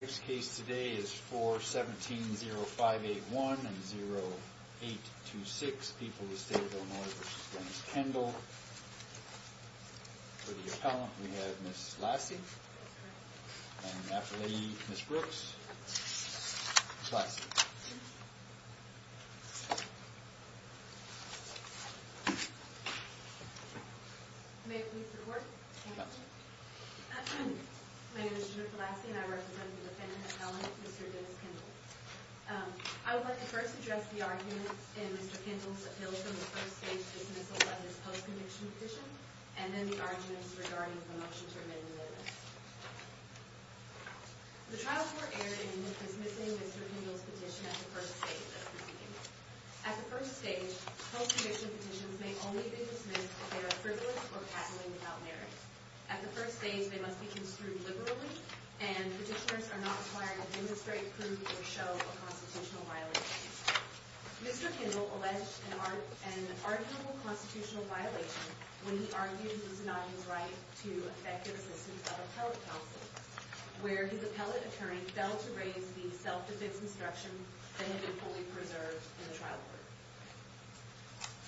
This case today is 4-17-0581 and 0-8-2-6. People of the State of Illinois v. Dennis Kendall. For the appellant, we have Ms. Lassie. And the affiliate, Ms. Brooks. Ms. Lassie. May it please the Court. Thank you. My name is Jennifer Lassie and I represent the defendant appellant, Mr. Dennis Kendall. I would like to first address the arguments in Mr. Kendall's appeals from the first stage dismissal of his post-conviction petition, and then the arguments regarding the motion to amend the limits. The trial court erred in dismissing Mr. Kendall's petition at the first stage of proceedings. At the first stage, post-conviction petitions may only be dismissed if they are frivolous or passively without merit. At the first stage, they must be construed liberally, and petitioners are not required to demonstrate, prove, or show a constitutional violation. Mr. Kendall alleged an arguable constitutional violation when he argued that it was not his right to effective assistance of appellate counsel, where his appellate attorney failed to raise the self-defense instruction that had been fully preserved in the trial court.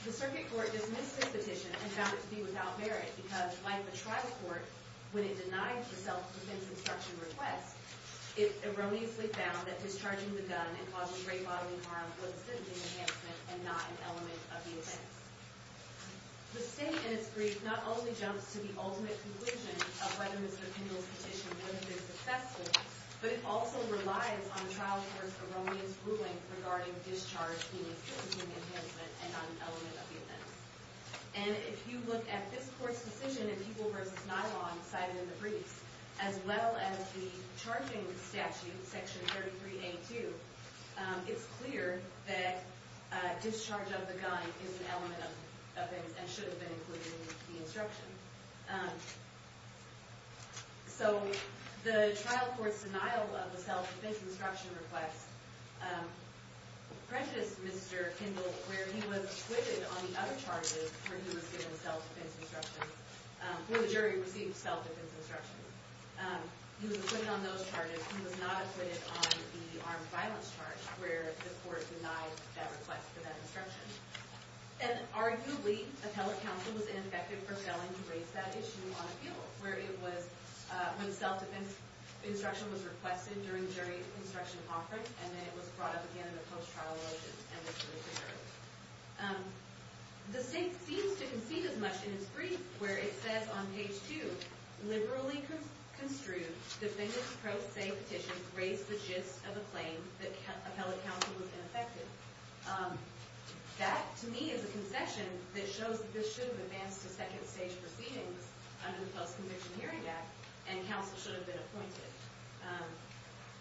The circuit court dismissed his petition and found it to be without merit because, like the trial court, when it denied the self-defense instruction request, it erroneously found that discharging the gun and causing grave bodily harm was a significant enhancement and not an element of the offense. The state in its brief not only jumps to the ultimate conclusion of whether Mr. Kendall's petition was successful, but it also relies on the trial court's erroneous ruling regarding discharge being a significant enhancement and not an element of the offense. And if you look at this court's decision in People v. Nylon cited in the briefs, as well as the charging statute, Section 33a.2, it's clear that discharge of the gun is an element of the offense and should have been included in the instruction. So the trial court's denial of the self-defense instruction request prejudiced Mr. Kendall, where he was acquitted on the other charges where the jury received self-defense instructions. He was acquitted on those charges. He was not acquitted on the armed violence charge, where the court denied that request for that instruction. And arguably, appellate counsel was ineffective for failing to raise that issue on appeal, where it was when self-defense instruction was requested during jury instruction offerings, and then it was brought up again in the post-trial elections, and the jury concurred. The state seems to concede as much in its brief, where it says on page two, That, to me, is a concession that shows that this should have advanced to second stage proceedings under the Post-Conviction Hearing Act, and counsel should have been appointed.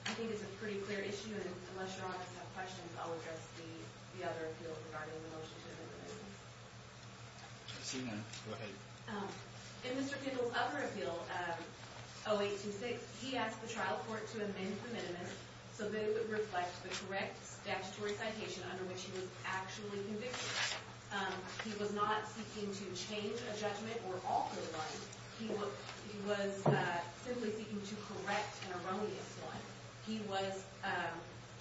I think it's a pretty clear issue, and unless your office has questions, I'll address the other appeals regarding the motion to amend the minimum. In Mr. Kendall's other appeal, 0826, he asked the trial court to amend the minimum so that it would reflect the correct statutory citation under which he was actually convicted. He was not seeking to change a judgment or alter one. He was simply seeking to correct an erroneous one. He was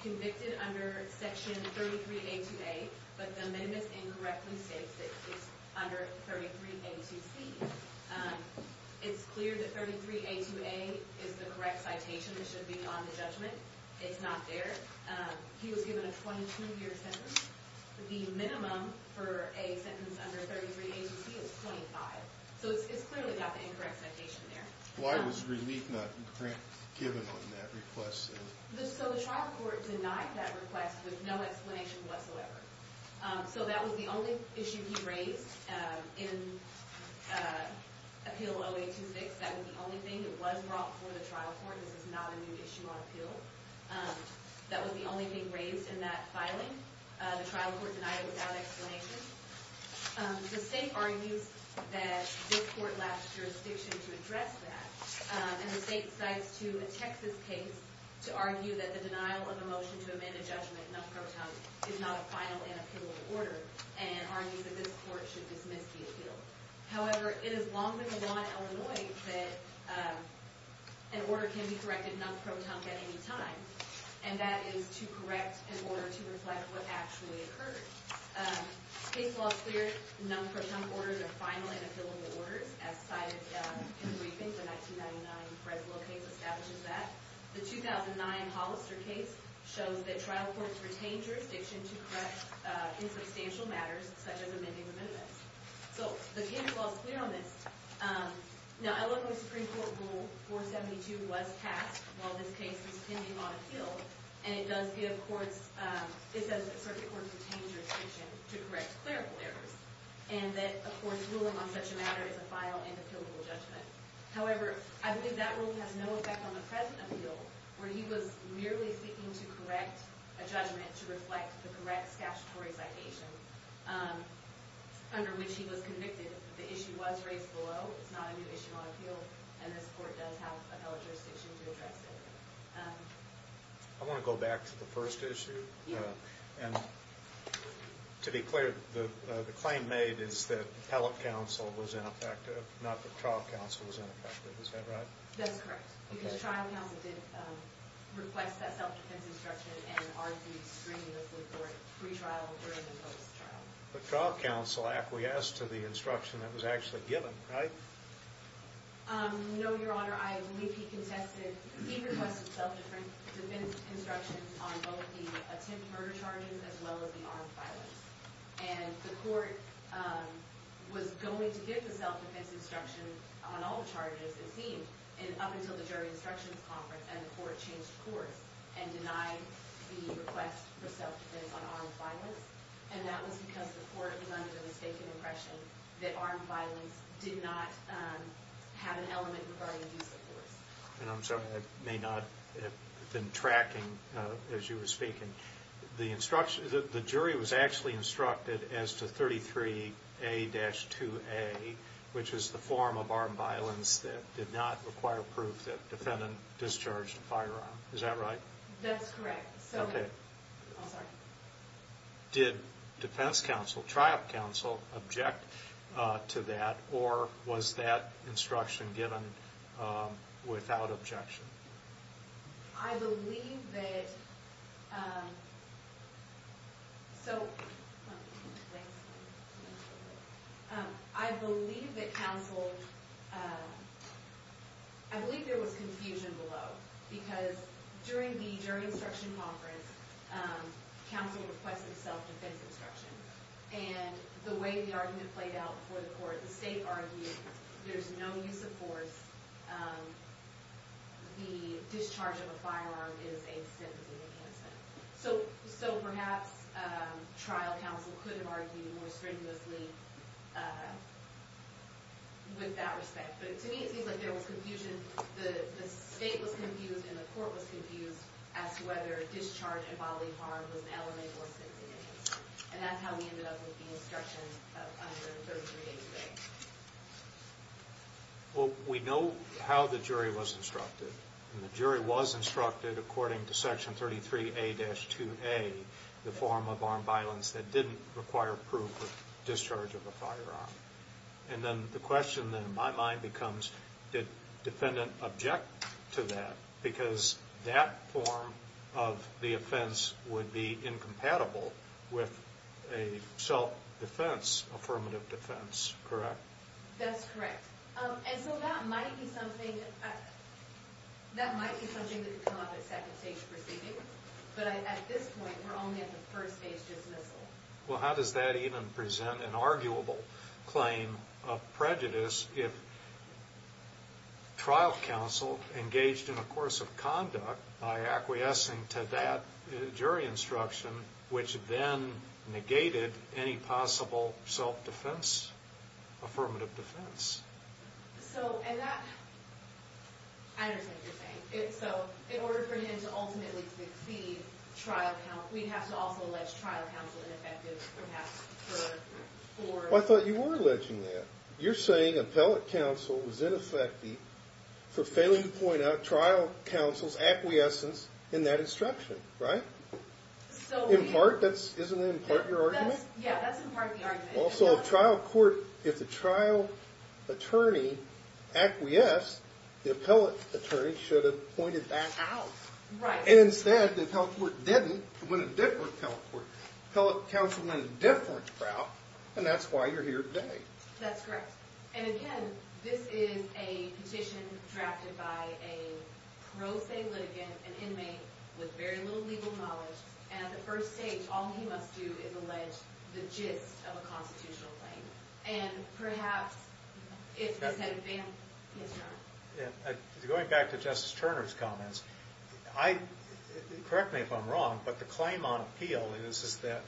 convicted under Section 33A2A, but the minimus incorrectly states that it's under 33A2C. It's clear that 33A2A is the correct citation that should be on the judgment. It's not there. He was given a 22-year sentence. The minimum for a sentence under 33A2C is 25. So it's clearly got the incorrect citation there. Why was relief not given on that request, then? So the trial court denied that request with no explanation whatsoever. So that was the only issue he raised in Appeal 0826. That was the only thing that was brought before the trial court. This is not a new issue on appeal. That was the only thing raised in that filing. The trial court denied it without explanation. The state argues that this court lacks jurisdiction to address that, and the state cites to a Texas case to argue that the denial of a motion to amend a judgment non-proton is not a final and appealable order, and argues that this court should dismiss the appeal. However, it is longer than the law in Illinois that an order can be corrected non-proton at any time, and that is to correct an order to reflect what actually occurred. The case law is clear. Non-proton orders are final and appealable orders, as cited in the briefing. The 1999 Fresno case establishes that. The 2009 Hollister case shows that trial courts retain jurisdiction to correct insubstantial matters, such as amending amendments. So the case law is clear on this. Now, Illinois Supreme Court Rule 472 was passed while this case was pending on appeal, and it says that circuit courts retain jurisdiction to correct clerical errors, and that a court's ruling on such a matter is a final and appealable judgment. However, I believe that rule has no effect on the present appeal, where he was merely seeking to correct a judgment to reflect the correct statutory citation under which he was convicted. The issue was raised below. It's not a new issue on appeal, and this court does have a fellow jurisdiction to address it. I want to go back to the first issue. Yeah. And to be clear, the claim made is that appellate counsel was ineffective, not that trial counsel was ineffective. Is that right? That's correct. Because trial counsel did request that self-defense instruction and argued strenuously for it pre-trial or even post-trial. But trial counsel acquiesced to the instruction that was actually given, right? No, Your Honor. I believe he requested self-defense instructions on both the attempt murder charges as well as the armed violence. And the court was going to give the self-defense instruction on all charges, it seemed, up until the jury instructions conference, and the court changed course and denied the request for self-defense on armed violence. And that was because the court was under the mistaken impression that armed violence did not have an element regarding due support. And I'm sorry, I may not have been tracking as you were speaking. The jury was actually instructed as to 33A-2A, which is the form of armed violence that did not require proof that defendant discharged a firearm. Is that right? That's correct. Okay. I'm sorry. Did defense counsel, trial counsel, object to that? Or was that instruction given without objection? I believe that... So... I believe that counsel... I believe there was confusion below. Because during the jury instruction conference, counsel requested self-defense instruction. And the way the argument played out before the court, the state argued there's no use of force. The discharge of a firearm is a sentencing enhancement. So perhaps trial counsel could have argued more strenuously with that respect. But to me it seems like there was confusion. The state was confused and the court was confused as to whether discharge involving harm was an element or sentencing enhancement. And that's how we ended up with the instruction under 33A-2A. Well, we know how the jury was instructed. And the jury was instructed according to Section 33A-2A, the form of armed violence that didn't require proof of discharge of a firearm. And then the question in my mind becomes, did defendant object to that? Because that form of the offense would be incompatible with a self-defense, affirmative defense, correct? That's correct. And so that might be something... That might be something that could come up at second stage proceedings. But at this point, we're only at the first phase dismissal. Well, how does that even present an arguable claim of prejudice if trial counsel engaged in a course of conduct by acquiescing to that jury instruction, which then negated any possible self-defense, affirmative defense? So, and that... I understand what you're saying. So, in order for him to ultimately succeed, we'd have to also allege trial counsel ineffective perhaps for... Well, I thought you were alleging that. You're saying appellate counsel was ineffective for failing to point out trial counsel's acquiescence in that instruction, right? So... Isn't that in part your argument? Yeah, that's in part the argument. Also, if trial court... If the trial attorney acquiesced, the appellate attorney should have pointed that out. Right. And instead, the appellate court didn't and went a different appellate court. Appellate counsel went a different route, and that's why you're here today. That's correct. And again, this is a petition drafted by a pro se litigant, an inmate with very little legal knowledge, and at the first stage, all he must do is allege the gist of a constitutional claim. And perhaps, if this had been his trial... Going back to Justice Turner's comments, I... Correct me if I'm wrong, but the claim on appeal is that...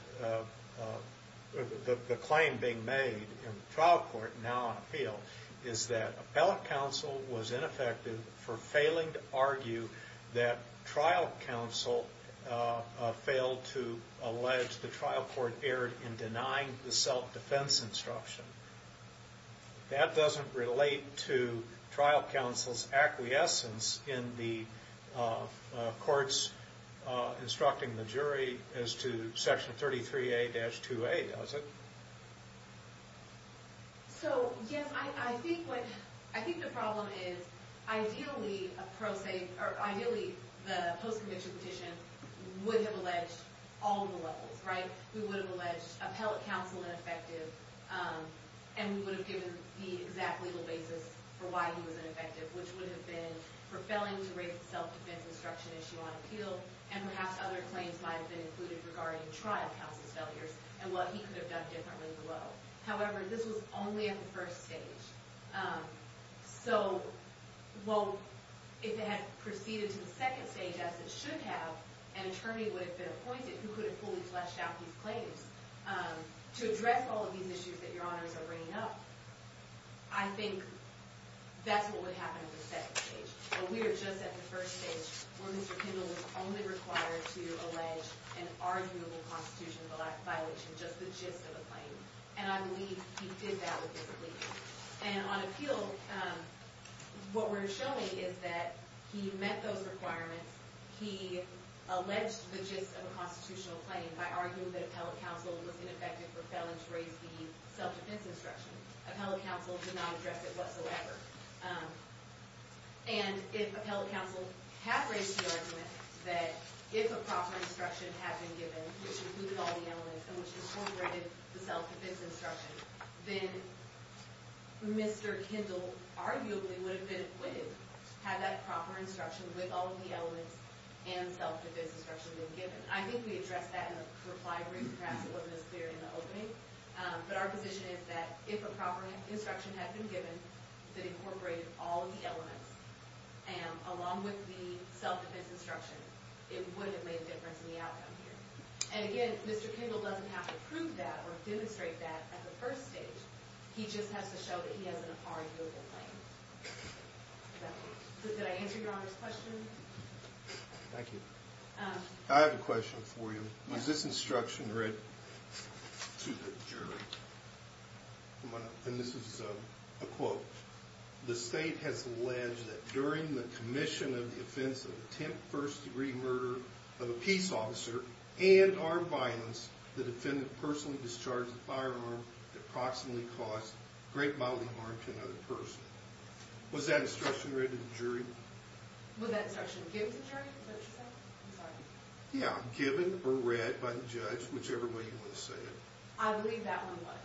The claim being made in trial court, now on appeal, is that appellate counsel was ineffective for failing to argue that trial counsel failed to allege the trial court erred in denying the self-defense instruction. That doesn't relate to trial counsel's acquiescence in the courts instructing the jury as to Section 33A-2A, does it? So, yes, I think what... I think the problem is, ideally, a pro se... Or ideally, the post-conviction petition would have alleged all of the levels, right? We would have alleged appellate counsel ineffective, and we would have given the exact legal basis for why he was ineffective, which would have been for failing to raise the self-defense instruction issue on appeal, and perhaps other claims might have been included regarding trial counsel's failures and what he could have done differently below. However, this was only at the first stage. So, well, if it had proceeded to the second stage, as it should have, an attorney would have been appointed who could have fully fleshed out these claims to address all of these issues that Your Honors are bringing up. I think that's what would happen at the second stage. But we are just at the first stage where Mr. Kendall was only required to allege an arguable constitutional violation, just the gist of a claim. And I believe he did that with his plea. And on appeal, what we're showing is that he met those requirements. He alleged the gist of a constitutional claim by arguing that appellate counsel was ineffective for failing to raise the self-defense instruction. Appellate counsel did not address it whatsoever. And if appellate counsel had raised the argument that if a proper instruction had been given, which included all the elements and which incorporated the self-defense instruction, then Mr. Kendall arguably would have been acquitted, had that proper instruction with all of the elements and self-defense instruction been given. I think we addressed that in a reply brief. Perhaps it wasn't as clear in the opening. But our position is that if a proper instruction had been given that incorporated all of the elements, along with the self-defense instruction, it would have made a difference in the outcome here. And again, Mr. Kendall doesn't have to prove that or demonstrate that at the first stage. He just has to show that he has an arguable claim. So did I answer Your Honors' question? Thank you. I have a question for you. Was this instruction read to the jury? And this is a quote. The state has alleged that during the commission of the offense of attempt first-degree murder of a peace officer and armed violence, the defendant personally discharged a firearm that approximately caused great bodily harm to another person. Was that instruction read to the jury? Was that instruction given to the jury? Is that what you said? I'm sorry. Yeah, given or read by the judge, whichever way you want to say it. I believe that one was.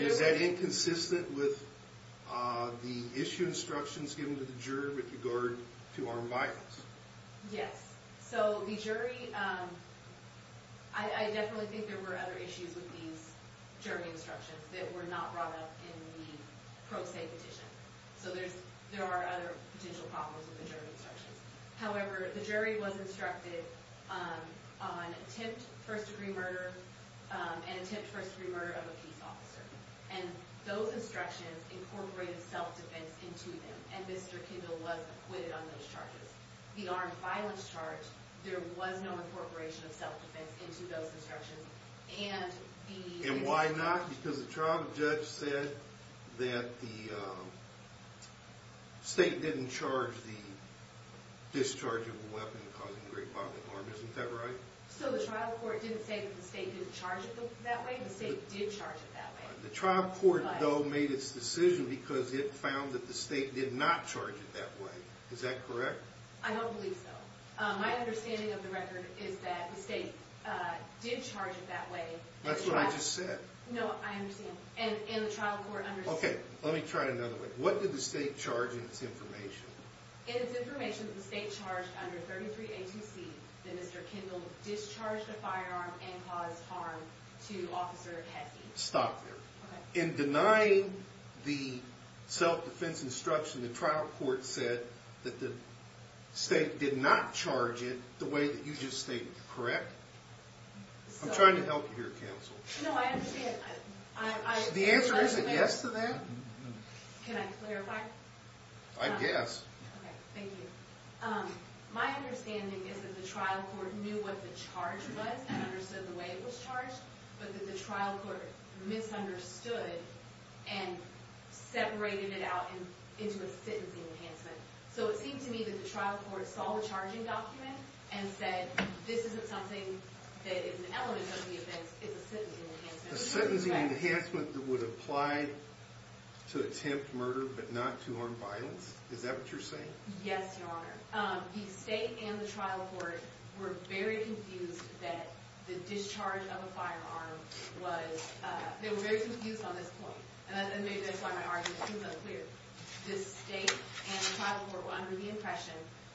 Is that inconsistent with the issue instructions given to the jury with regard to armed violence? Yes. So the jury, I definitely think there were other issues with these jury instructions that were not brought up in the pro se petition. So there are other potential problems with the jury instructions. However, the jury was instructed on attempt first-degree murder and attempt first-degree murder of a peace officer. And those instructions incorporated self-defense into them. And Mr. Kendall was acquitted on those charges. The armed violence charge, there was no incorporation of self-defense into those instructions. And why not? Because the trial judge said that the state didn't charge the discharge of a weapon causing great bodily harm. Isn't that right? So the trial court didn't say that the state didn't charge it that way. The state did charge it that way. The trial court, though, made its decision because it found that the state did not charge it that way. Is that correct? I don't believe so. My understanding of the record is that the state did charge it that way. That's what I just said. No, I understand. And the trial court understood. Okay, let me try it another way. What did the state charge in its information? In its information, the state charged under 33A2C that Mr. Kendall discharged a firearm and caused harm to Officer Hessey. Stop there. In denying the self-defense instruction, the trial court said that the state did not charge it the way that you just stated. Correct? I'm trying to help you here, counsel. No, I understand. The answer is a yes to that. Can I clarify? I guess. Okay, thank you. My understanding is that the trial court knew what the charge was and understood the way it was charged, but that the trial court misunderstood and separated it out into a sentencing enhancement. So it seemed to me that the trial court saw the charging document and said, this isn't something that is an element of the offense, it's a sentencing enhancement. A sentencing enhancement that would apply to attempt murder but not to harm violence? Is that what you're saying? Yes, Your Honor. The state and the trial court were very confused that the discharge of a firearm was – they were very confused on this point. And maybe that's why my argument seems unclear. The state and the trial court were under the impression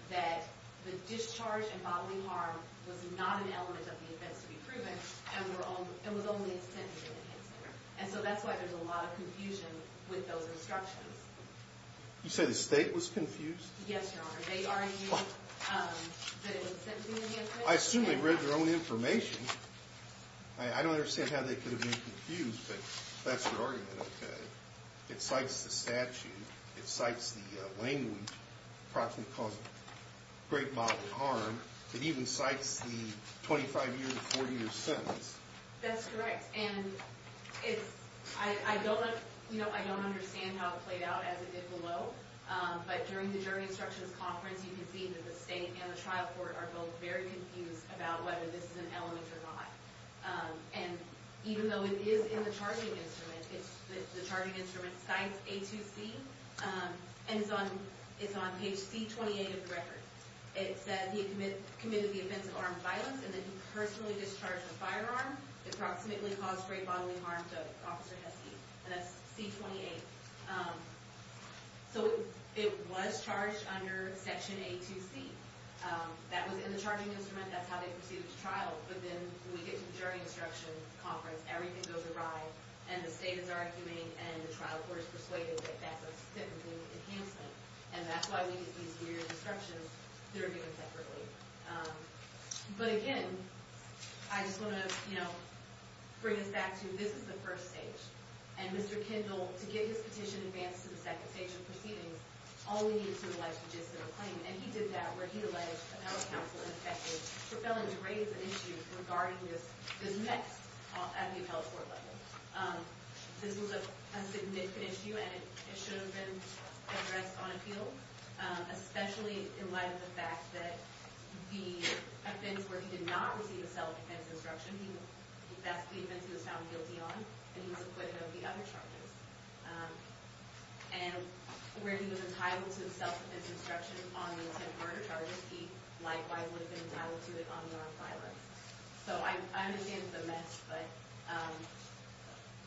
that the discharge and bodily harm was not an element of the offense to be proven and was only a sentencing enhancement. And so that's why there's a lot of confusion with those instructions. You say the state was confused? Yes, Your Honor. They already knew that it was a sentencing enhancement. I assume they read their own information. I don't understand how they could have been confused, but that's your argument, okay. It cites the statute. It cites the language, approximately causing great bodily harm. It even cites the 25-year to 40-year sentence. That's correct. And I don't understand how it played out as it did below. But during the jury instructions conference, you can see that the state and the trial court are both very confused about whether this is an element or not. And even though it is in the charging instrument, the charging instrument cites A2C, and it's on page C28 of the record. It says he committed the offense of armed violence and that he personally discharged a firearm that approximately caused great bodily harm to Officer Hessey. And that's C28. So it was charged under Section A2C. That was in the charging instrument. That's how they proceeded to trial. But then when we get to the jury instructions conference, everything goes awry, and the state is arguing, and the trial court is persuaded that that's a sentencing enhancement. And that's why we get these weird instructions that are given separately. But, again, I just want to, you know, bring this back to this is the first stage. And Mr. Kindle, to get his petition advanced to the second stage of proceedings, all we need is to elect a just and a plain. And he did that, where he elected appellate counsel and effective for failing to raise an issue regarding this next at the appellate court level. This was a significant issue, and it should have been addressed on appeal, especially in light of the fact that the offense where he did not receive a self-defense instruction, that's the offense he was found guilty on, and he was acquitted of the other charges. And where he was entitled to self-defense instruction on the attempted murder charges, he likewise would have been entitled to it on non-violence. So I understand it's a mess, but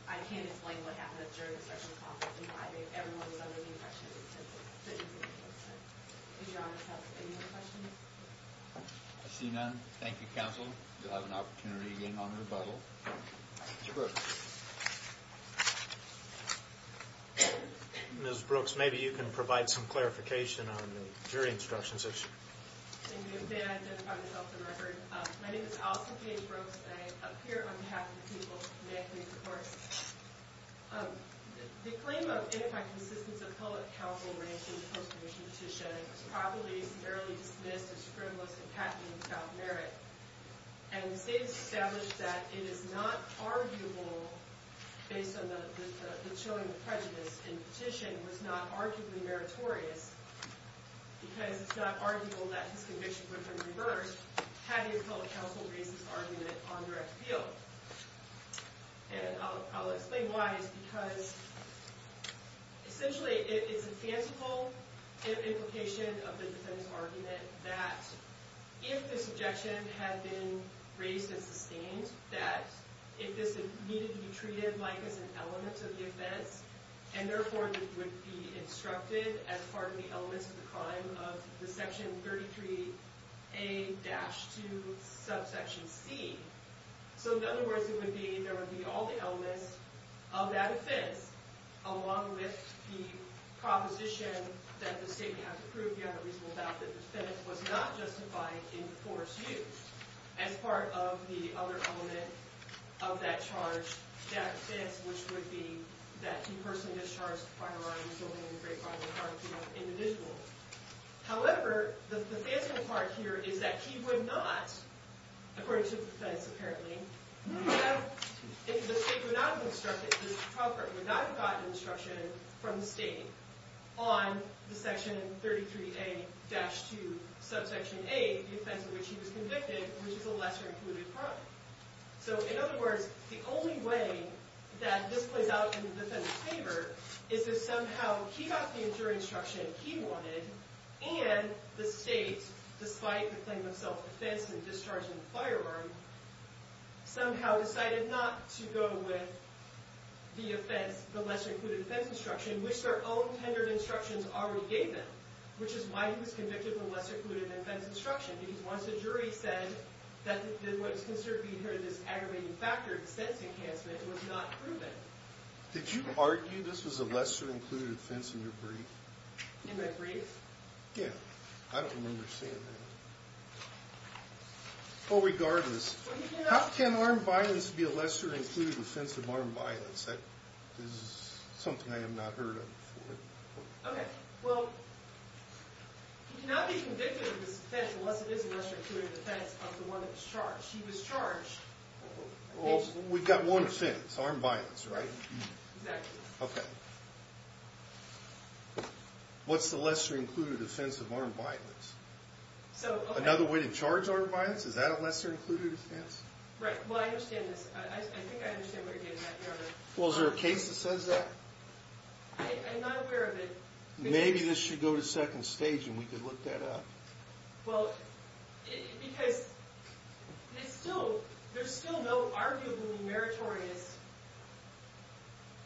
I can't explain what happened at the jury instructions conference in private. Everyone was under the impression it was simple. But it wasn't. Is your Honor's counsel, any more questions? I see none. Thank you, counsel. You'll have an opportunity again on rebuttal. Mr. Brooks. Ms. Brooks, maybe you can provide some clarification on the jury instructions issue. Thank you. May I identify myself for the record? My name is Allison K. Brooks, and I appear on behalf of the people of the Manhattan Court. The claim of ineffective assistance of public counsel raised in the post-conviction petition was probably severely dismissed as frivolous and patently without merit. And the state has established that it is not arguable, based on the chilling of prejudice in the petition, was not arguably meritorious, because it's not arguable that his conviction would have been reversed had the appellate counsel raised his argument on direct appeal. And I'll explain why. It's because, essentially, it's a fanciful implication of the defendant's argument that if this objection had been raised and sustained, that if this needed to be treated, like, as an element of the offense, and therefore would be instructed as part of the elements of the crime of the Section 33A-2 subsection C, so in other words, it would be, there would be all the elements of that offense, along with the proposition that the state may have to prove beyond a reasonable doubt that the offense was not justified in force used as part of the other element of that charge, that offense, which would be that he personally discharged a firearm resulting in the great crime of the crime of the individual. However, the fanciful part here is that he would not, according to the defense, apparently, if the state would not have instructed, the appellate would not have gotten instruction from the state on the Section 33A-2 subsection A, the offense in which he was convicted, which is a lesser-included crime. So, in other words, the only way that this plays out in the defendant's favor is if somehow he got the injury instruction he wanted, and the state, despite the claim of self-defense and discharging the firearm, somehow decided not to go with the offense, the lesser-included offense instruction, which their own tendered instructions already gave them, which is why he was convicted for lesser-included offense instruction, because once the jury said that what is considered to be this aggravating factor, the sense enhancement, it was not proven. Did you argue this was a lesser-included offense in your brief? In my brief? Yeah. I don't remember seeing that. Well, regardless, how can armed violence be a lesser-included offense of armed violence? That is something I have not heard of before. Okay. Well, he cannot be convicted of this offense unless it is a lesser-included offense of the one that was charged. Well, we've got one offense, armed violence, right? Exactly. Okay. What's the lesser-included offense of armed violence? Another way to charge armed violence? Is that a lesser-included offense? Right. Well, I understand this. I think I understand what you're getting at, Your Honor. Well, is there a case that says that? I'm not aware of it. Maybe this should go to second stage and we could look that up. Well, because there's still no arguably meritorious,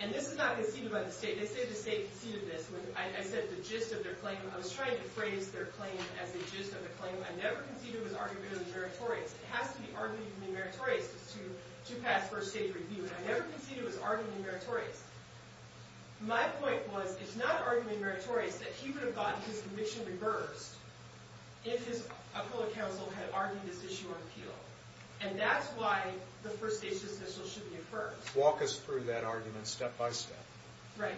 and this is not conceded by the state. They say the state conceded this when I said the gist of their claim. I was trying to phrase their claim as the gist of the claim. I never conceded it was arguably meritorious. It has to be arguably meritorious to pass first-stage review, and I never conceded it was arguably meritorious. My point was it's not arguably meritorious that he would have gotten his conviction reversed if his appellate counsel had argued this issue on appeal. And that's why the first-stage decision should be affirmed. Walk us through that argument step-by-step. Right.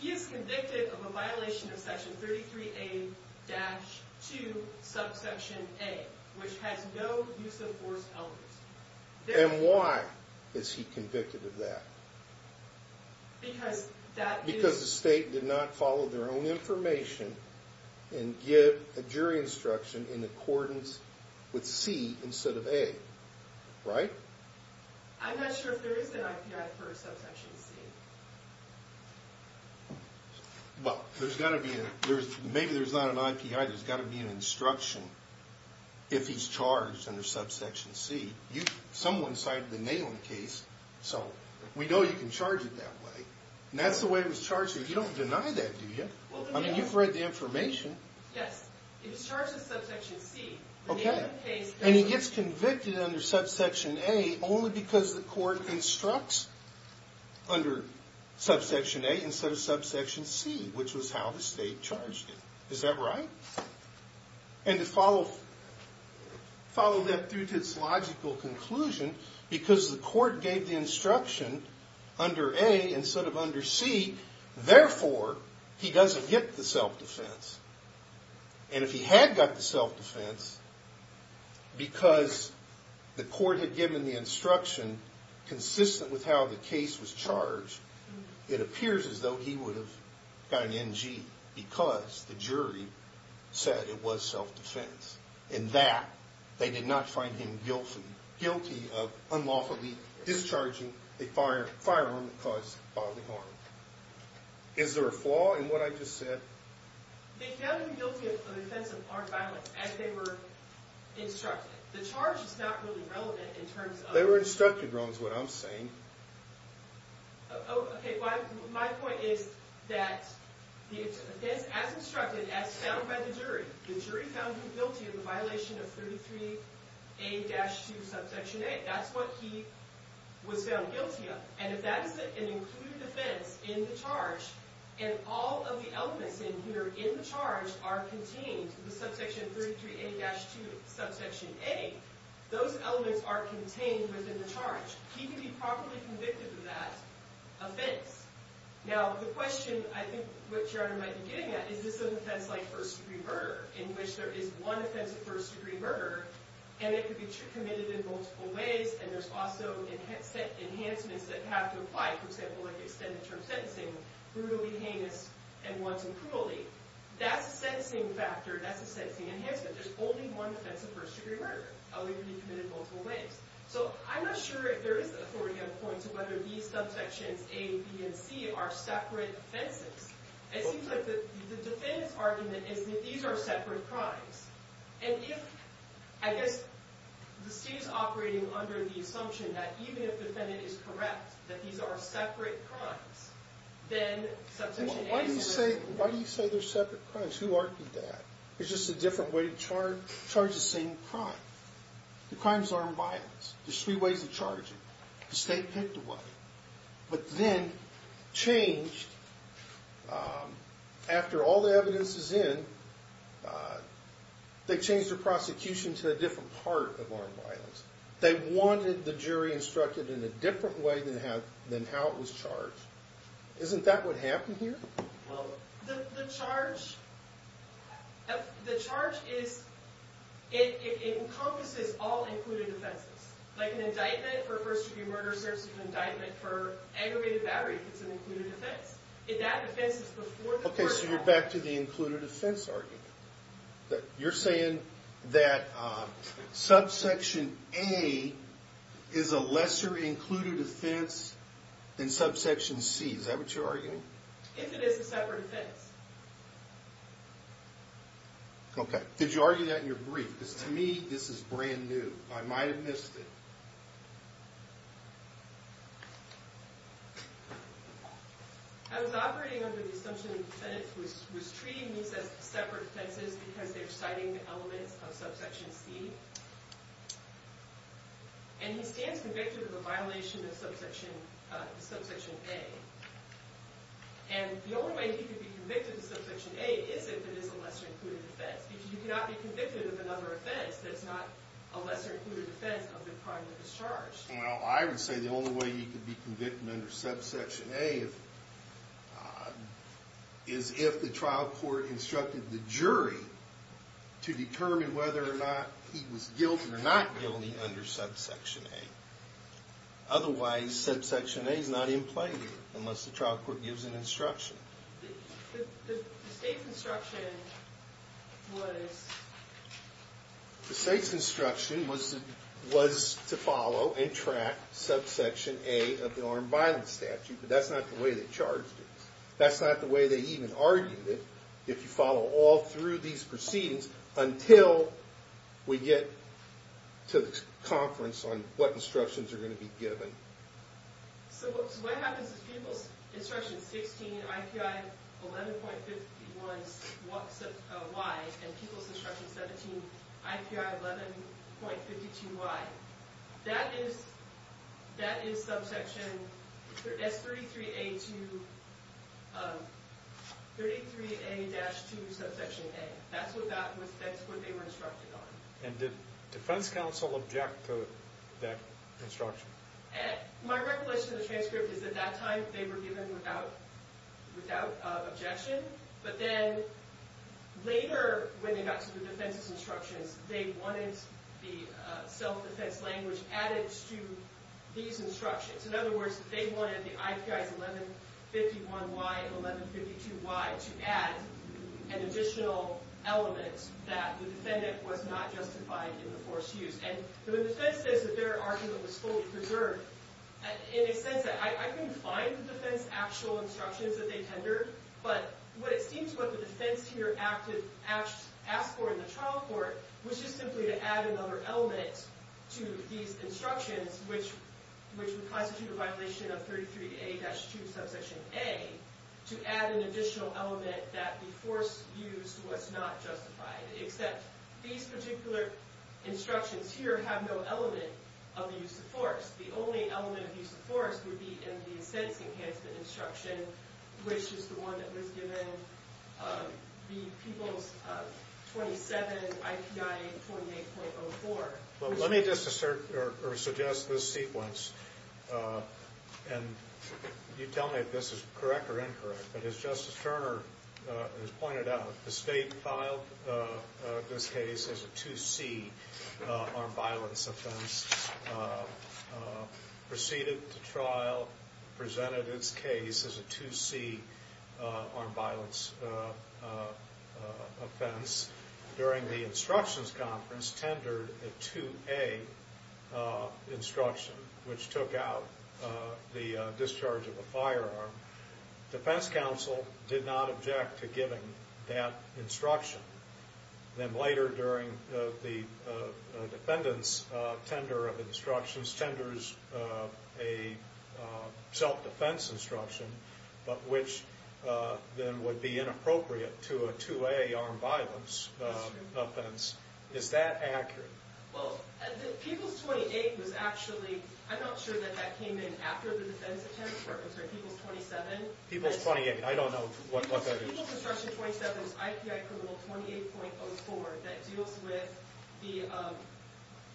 He is convicted of a violation of Section 33A-2, subsection A, which has no use-of-force element. And why is he convicted of that? Because the state did not follow their own information and give a jury instruction in accordance with C instead of A. Right? I'm not sure if there is an IPI for subsection C. Well, maybe there's not an IPI. There's got to be an instruction if he's charged under subsection C. Someone cited the Nalin case, so we know you can charge it that way. And that's the way it was charged. You don't deny that, do you? I mean, you've read the information. Yes. He was charged with subsection C. And he gets convicted under subsection A only because the court instructs under subsection A instead of subsection C, which was how the state charged him. Is that right? And to follow that through to its logical conclusion, because the court gave the instruction under A instead of under C, therefore, he doesn't get the self-defense. And if he had got the self-defense because the court had given the instruction consistent with how the case was charged, it appears as though he would have got an NG because the jury said it was self-defense. In that, they did not find him guilty of unlawfully discharging a firearm that caused bodily harm. Is there a flaw in what I just said? They found him guilty of the offense of armed violence as they were instructed. The charge is not really relevant in terms of— They were instructed wrong is what I'm saying. Oh, okay. My point is that the offense as instructed, as found by the jury, the jury found him guilty of the violation of 33A-2, subsection A. That's what he was found guilty of. And if that is an included offense in the charge and all of the elements in here in the charge are contained in the subsection 33A-2, subsection A, those elements are contained within the charge. He can be properly convicted of that offense. Now, the question I think what Gerardo might be getting at is this is an offense like first-degree murder in which there is one offense of first-degree murder and it can be committed in multiple ways and there's also enhancements that have to apply, for example, like extended-term sentencing, brutally heinous and once in cruelly. That's a sentencing factor. That's a sentencing enhancement. There's only one offense of first-degree murder. It can be committed in multiple ways. So I'm not sure if there is an authority on the point of whether these subsections A, B, and C are separate offenses. It seems like the defense argument is that these are separate crimes. And if, I guess, the state is operating under the assumption that even if the defendant is correct that these are separate crimes, then subsection A is a separate crime. Why do you say they're separate crimes? Who argued that? It's just a different way to charge the same crime. The crimes aren't violence. There's three ways to charge it. The state picked a way. But then changed, after all the evidence is in, they changed the prosecution to a different part of armed violence. They wanted the jury instructed in a different way than how it was charged. Isn't that what happened here? The charge is, it encompasses all included offenses. Like an indictment for first-degree murder serves as an indictment for aggravated battery if it's an included offense. If that offense is before the court of law. Okay, so you're back to the included offense argument. You're saying that subsection A is a lesser included offense than subsection C. Is that what you're arguing? If it is a separate offense. Okay, did you argue that in your brief? Because to me, this is brand new. I might have missed it. I was operating under the assumption that the defendant was treating these as separate offenses because they're citing the elements of subsection C. And he stands convicted of a violation of subsection A. And the only way he could be convicted of subsection A is if it is a lesser included offense. Because you cannot be convicted of another offense that's not a lesser included offense of the crime that was charged. Well, I would say the only way he could be convicted under subsection A is if the trial court instructed the jury to determine whether or not he was guilty or not guilty under subsection A. Otherwise, subsection A is not in play here. Unless the trial court gives an instruction. The state's instruction was to follow and track subsection A of the armed violence statute. But that's not the way they charged it. That's not the way they even argued it. If you follow all through these proceedings until we get to the conference on what instructions are going to be given. So what happens is people's instruction 16, IPI 11.51Y, and people's instruction 17, IPI 11.52Y. That is subsection S33A-2, subsection A. That's what they were instructed on. And did defense counsel object to that instruction? My recollection of the transcript is at that time they were given without objection. But then later when they got to the defense's instructions, they wanted the self-defense language added to these instructions. In other words, they wanted the IPIs 11.51Y and 11.52Y to add an additional element that the defendant was not justified in the forced use. And the defense says that their argument was fully preserved. In a sense, I couldn't find the defense's actual instructions that they tendered. But what it seems what the defense here asked for in the trial court was just simply to add another element to these instructions, which would constitute a violation of 33A-2, subsection A, to add an additional element that the forced use was not justified. Except these particular instructions here have no element of the use of force. The only element of use of force would be in the offense enhancement instruction, which is the one that was given, the people's 27, IPI 28.04. Well, let me just assert or suggest this sequence. And you tell me if this is correct or incorrect. But as Justice Turner has pointed out, the state filed this case as a 2C armed violence offense, proceeded the trial, presented its case as a 2C armed violence offense. During the instructions conference, tendered a 2A instruction, which took out the discharge of a firearm. Defense counsel did not object to giving that instruction. Then later during the defendant's tender of instructions, tenders a self-defense instruction, but which then would be inappropriate to a 2A armed violence offense. Is that accurate? Well, the people's 28 was actually, I'm not sure that that came in after the defense attempts were concerned. People's 27? People's 28. I don't know what that is. People's instruction 27 is IPI criminal 28.04 that deals with the,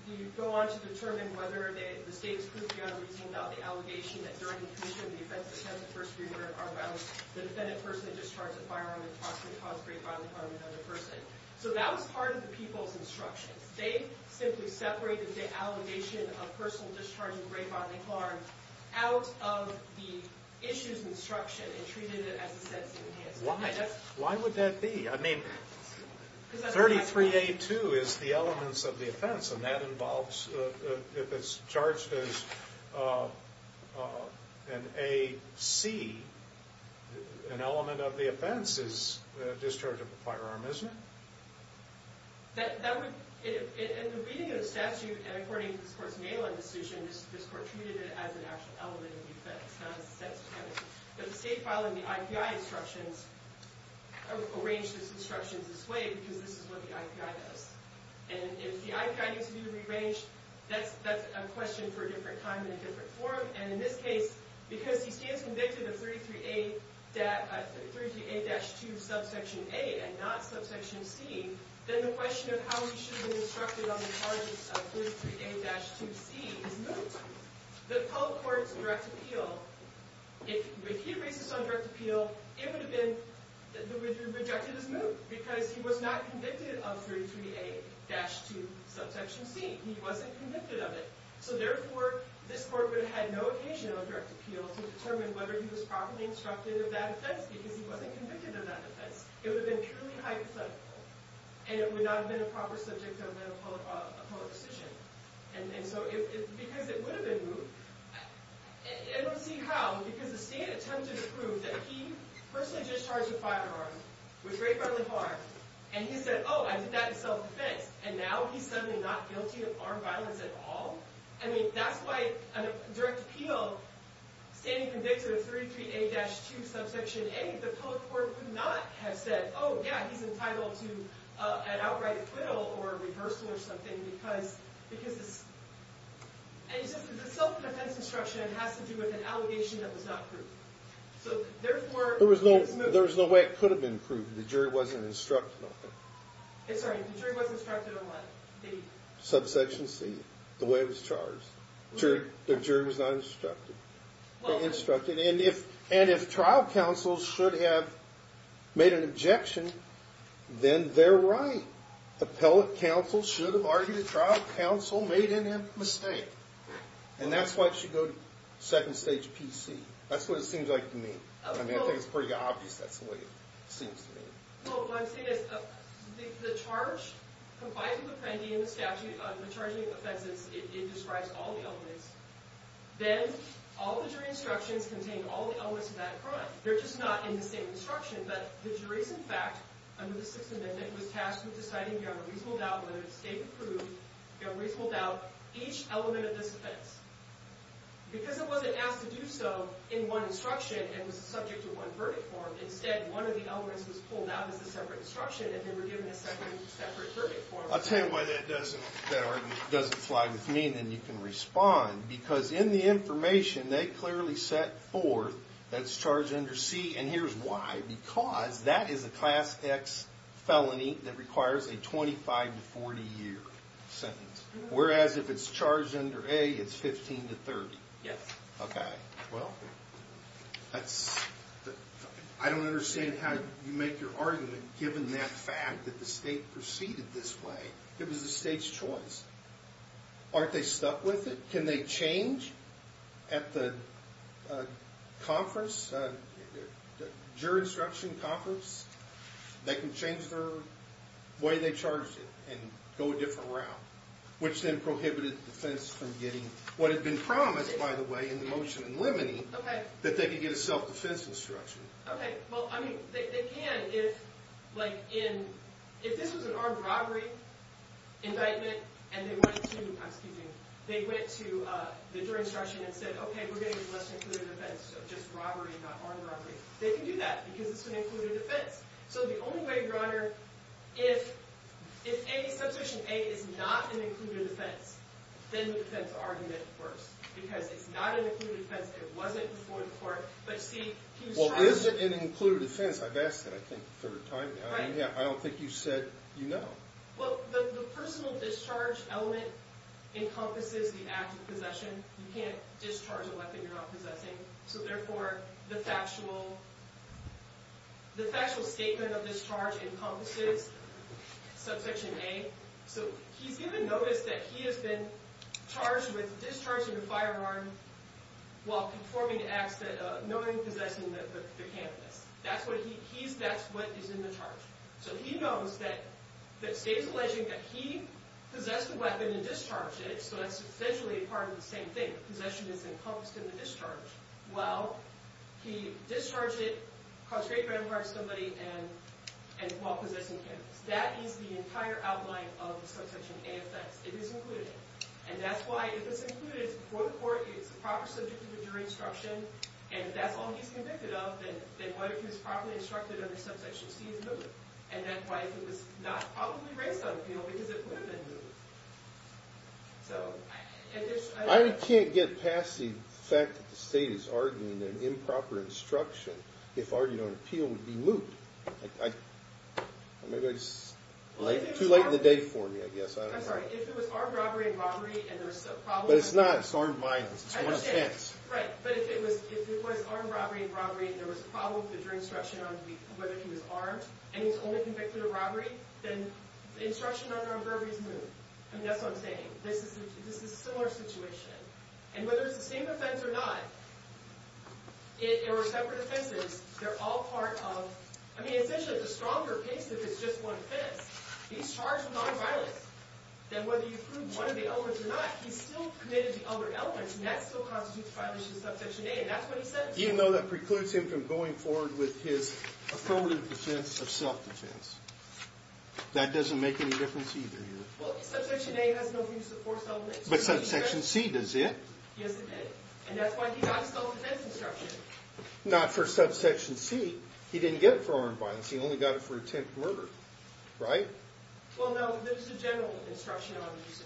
you go on to determine whether the state is proving on a reason about the allegation that during the commission of the offense of attempted first degree murder of armed violence, the defendant personally discharged a firearm that possibly caused great violence on another person. So that was part of the people's instructions. They simply separated the allegation of personal discharge of a great violent harm out of the issue's instruction and treated it as a sentencing. Why? Why would that be? I mean, 33A2 is the elements of the offense, and that involves, if it's charged as an AC, an element of the offense is discharge of a firearm, isn't it? That would, in the reading of the statute, and according to this court's mail-in decision, this court treated it as an actual element of the offense, not as a sentencing. But the state, following the IPI instructions, arranged its instructions this way because this is what the IPI does. And if the IPI needs to be rearranged, that's a question for a different time and a different forum. And in this case, because he stands convicted of 33A-2 subsection A and not subsection C, then the question of how he should have been instructed on the charges of 33A-2C is moot. The appellate court's direct appeal, if he raised this on direct appeal, it would have been rejected as moot because he was not convicted of 33A-2 subsection C. He wasn't convicted of it. So, therefore, this court would have had no occasion on direct appeal to determine whether he was properly instructed of that offense because he wasn't convicted of that offense. It would have been purely hypothetical, and it would not have been a proper subject of an appellate decision. And so, because it would have been moot, and we'll see how, because the state attempted to prove that he personally discharged a firearm with very friendly harm, and he said, oh, I did that in self-defense, and now he's suddenly not guilty of armed violence at all? I mean, that's why on a direct appeal, standing convicted of 33A-2 subsection A, the appellate court would not have said, oh, yeah, he's entitled to an outright acquittal or a reversal or something because it's a self-defense instruction. It has to do with an allegation that was not proved. There was no way it could have been proved. The jury wasn't instructed on it. Sorry, the jury wasn't instructed on what? The subsection C, the way it was charged. The jury was not instructed. They instructed, and if trial counsel should have made an objection, then they're right. Appellate counsel should have argued that trial counsel made a mistake. And that's why it should go to second stage PC. That's what it seems like to me. I mean, I think it's pretty obvious that's the way it seems to me. Well, what I'm saying is the charge complies with Appendi and the statute on the charging of offenses. It describes all the elements. Then all the jury instructions contain all the elements of that crime. They're just not in the same instruction, but the jury's, in fact, under the Sixth Amendment, was tasked with deciding beyond a reasonable doubt whether it stayed approved, beyond a reasonable doubt, each element of this offense. Because it wasn't asked to do so in one instruction and was subject to one verdict form, instead, one of the elements was pulled out as a separate instruction, and they were given a separate verdict form. I'll tell you why that doesn't fly with me, and then you can respond. Because in the information, they clearly set forth that's charged under C, and here's why. Because that is a Class X felony that requires a 25 to 40-year sentence. Whereas if it's charged under A, it's 15 to 30. Yes. Okay. Well, I don't understand how you make your argument, given that fact that the state proceeded this way. It was the state's choice. Aren't they stuck with it? Can they change at the conference, jury instruction conference? They can change the way they charged it and go a different route, which then prohibited the defense from getting what had been promised, by the way, in the motion and limiting, that they could get a self-defense instruction. Okay. Well, I mean, they can if, like, if this was an armed robbery indictment and they went to the jury instruction and said, okay, we're going to be less included in defense, so just robbery, not armed robbery. They can do that, because it's an included defense. So the only way, Your Honor, if Substitution A is not an included defense, then the defense argument works. Because it's not an included defense, it wasn't before the court, but C, he was charged. Well, is it an included defense? I've asked that, I think, a third time now. Right. I don't think you said you know. Well, the personal discharge element encompasses the act of possession. You can't discharge a weapon you're not possessing. So, therefore, the factual statement of discharge encompasses Substitution A. So he's given notice that he has been charged with discharging a firearm while performing an act of knowingly possessing the canvass. That's what is in the charge. So he knows that the state is alleging that he possessed the weapon and discharged it, so that's essentially part of the same thing. Possession is encompassed in the discharge. Well, he discharged it, caused great redemption for somebody while possessing the canvass. That is the entire outline of the Substitution A offense. It is included. And that's why, if it's included, it's before the court, it's the proper subject of the jury instruction, and if that's all he's convicted of, then what if he was properly instructed under Substitution C is moot. And that's why if it was not, probably raised on appeal, because it would have been moot. I can't get past the fact that the state is arguing that improper instruction, if argued on appeal, would be moot. Too late in the day for me, I guess. I'm sorry. If it was armed robbery and robbery, and there was a problem... But it's not. It's armed violence. It's one offense. Right. But if it was armed robbery and robbery, and there was a problem with the jury instruction on whether he was armed, and he's only convicted of robbery, then the instruction under on burglary is moot. I mean, that's what I'm saying. This is a similar situation. And whether it's the same offense or not, they're separate offenses. They're all part of... I mean, essentially, it's a stronger case if it's just one offense. He's charged with armed violence. Then whether you prove one of the elements or not, he still committed the other elements, and that still constitutes violence in subsection A, and that's what he says. Even though that precludes him from going forward with his affirmative defense of self-defense. That doesn't make any difference either here. Well, subsection A has no use of force elements. But subsection C does it. Yes, it did. And that's why he got a self-defense instruction. Not for subsection C. He didn't get it for armed violence. He only got it for attempted murder. Right? Well, no. There's a general instruction on use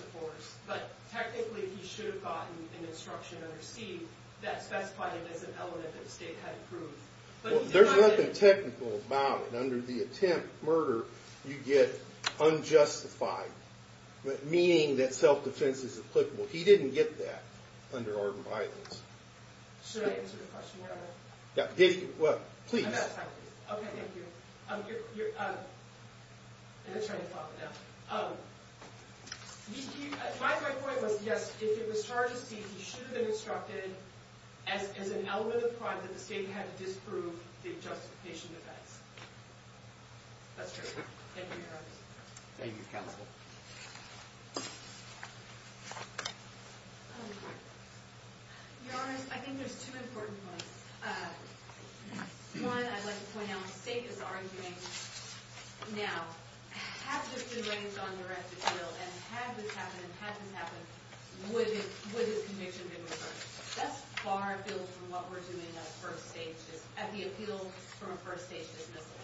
of force. But technically, he should have gotten an instruction under C that specified it as an element that the state had approved. There's nothing technical about it. Under the attempt murder, you get unjustified. Meaning that self-defense is applicable. He didn't get that under armed violence. Should I answer the question now? Please. I'm out of time. Okay, thank you. I'm going to try to follow it up. My point was, yes, if it was charged as C, he should have been instructed as an element of the crime that the state had to disprove the justification defense. That's true. Thank you, Your Honors. Thank you, Counsel. Your Honors, I think there's two important points. One, I'd like to point out, the state is arguing, now, had this been raised on direct appeal, and had this happened, had this happened, would this conviction have been reversed? That's far afield from what we're doing at the appeal from a first-stage dismissal.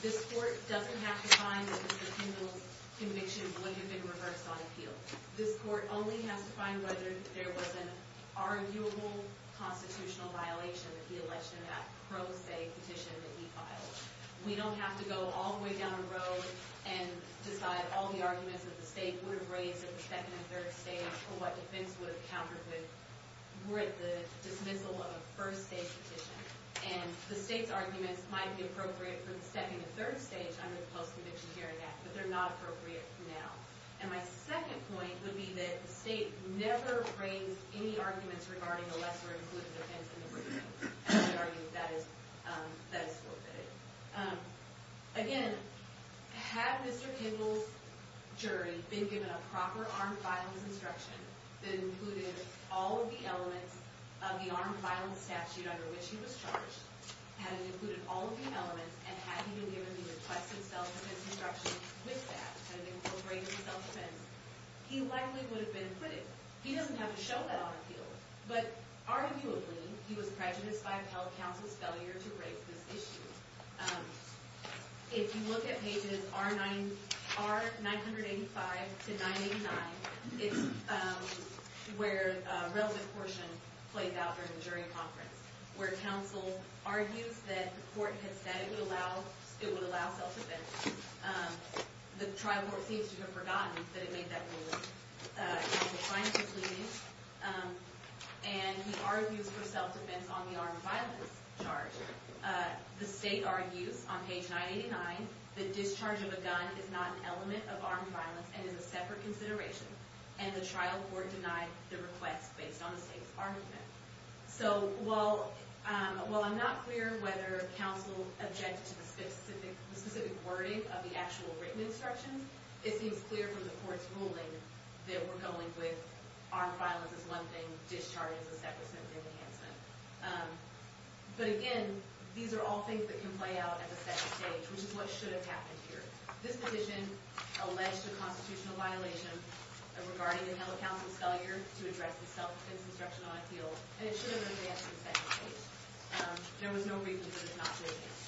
This Court doesn't have to find that Mr. Kendall's conviction would have been reversed on appeal. This Court only has to find whether there was an arguable constitutional violation that he alleged in that pro se petition that he filed. We don't have to go all the way down the road and decide all the arguments that the state would have raised at the second and third stage for what defense would have countered with the dismissal of a first-stage petition. And the state's arguments might be appropriate for the second and third stage under the Post-Conviction Hearing Act, but they're not appropriate now. And my second point would be that the state never raised any arguments regarding a lesser-included offense in the briefing. And we argue that that is forfeited. Again, had Mr. Kendall's jury been given a proper armed violence instruction that included all of the elements of the armed violence statute under which he was charged, had it included all of the elements, and had he been given the requested self-defense instruction with that, had it incorporated self-defense, he likely would have been acquitted. He doesn't have to show that on appeal. But arguably, he was prejudiced by the Health Council's failure to raise this issue. If you look at pages R-985 to 989, it's where a relevant portion plays out during the jury conference, where counsel argues that the court has said it would allow self-defense. The trial court seems to have forgotten that it made that ruling. Counsel finally pleaded, and he argues for self-defense on the armed violence charge. The state argues on page 989 that discharge of a gun is not an element of armed violence and is a separate consideration. And the trial court denied the request based on the state's argument. So while I'm not clear whether counsel objected to the specific wording of the actual written instructions, it seems clear from the court's ruling that we're going with armed violence as one thing, discharge as a separate symptom enhancement. But again, these are all things that can play out at the second stage, which is what should have happened here. This position alleged a constitutional violation regarding the Health Council's failure to address the self-defense instruction on appeal. And it should have been raised at the second stage. There was no reason for it not to have been.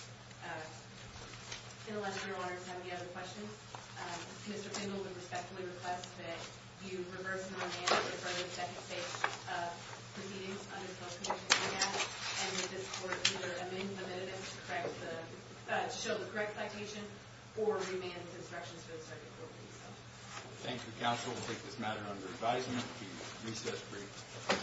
I feel like we're honored to have the other questions. Mr. Fingal, we respectfully request that you reverse the mandate for the second stage of proceedings under the Self-Defense Act. And that this court either amend the amendments to show the correct citation or remand the instructions to the circuit court. Thank you, counsel. We'll take this matter under advisement. The recess is briefed.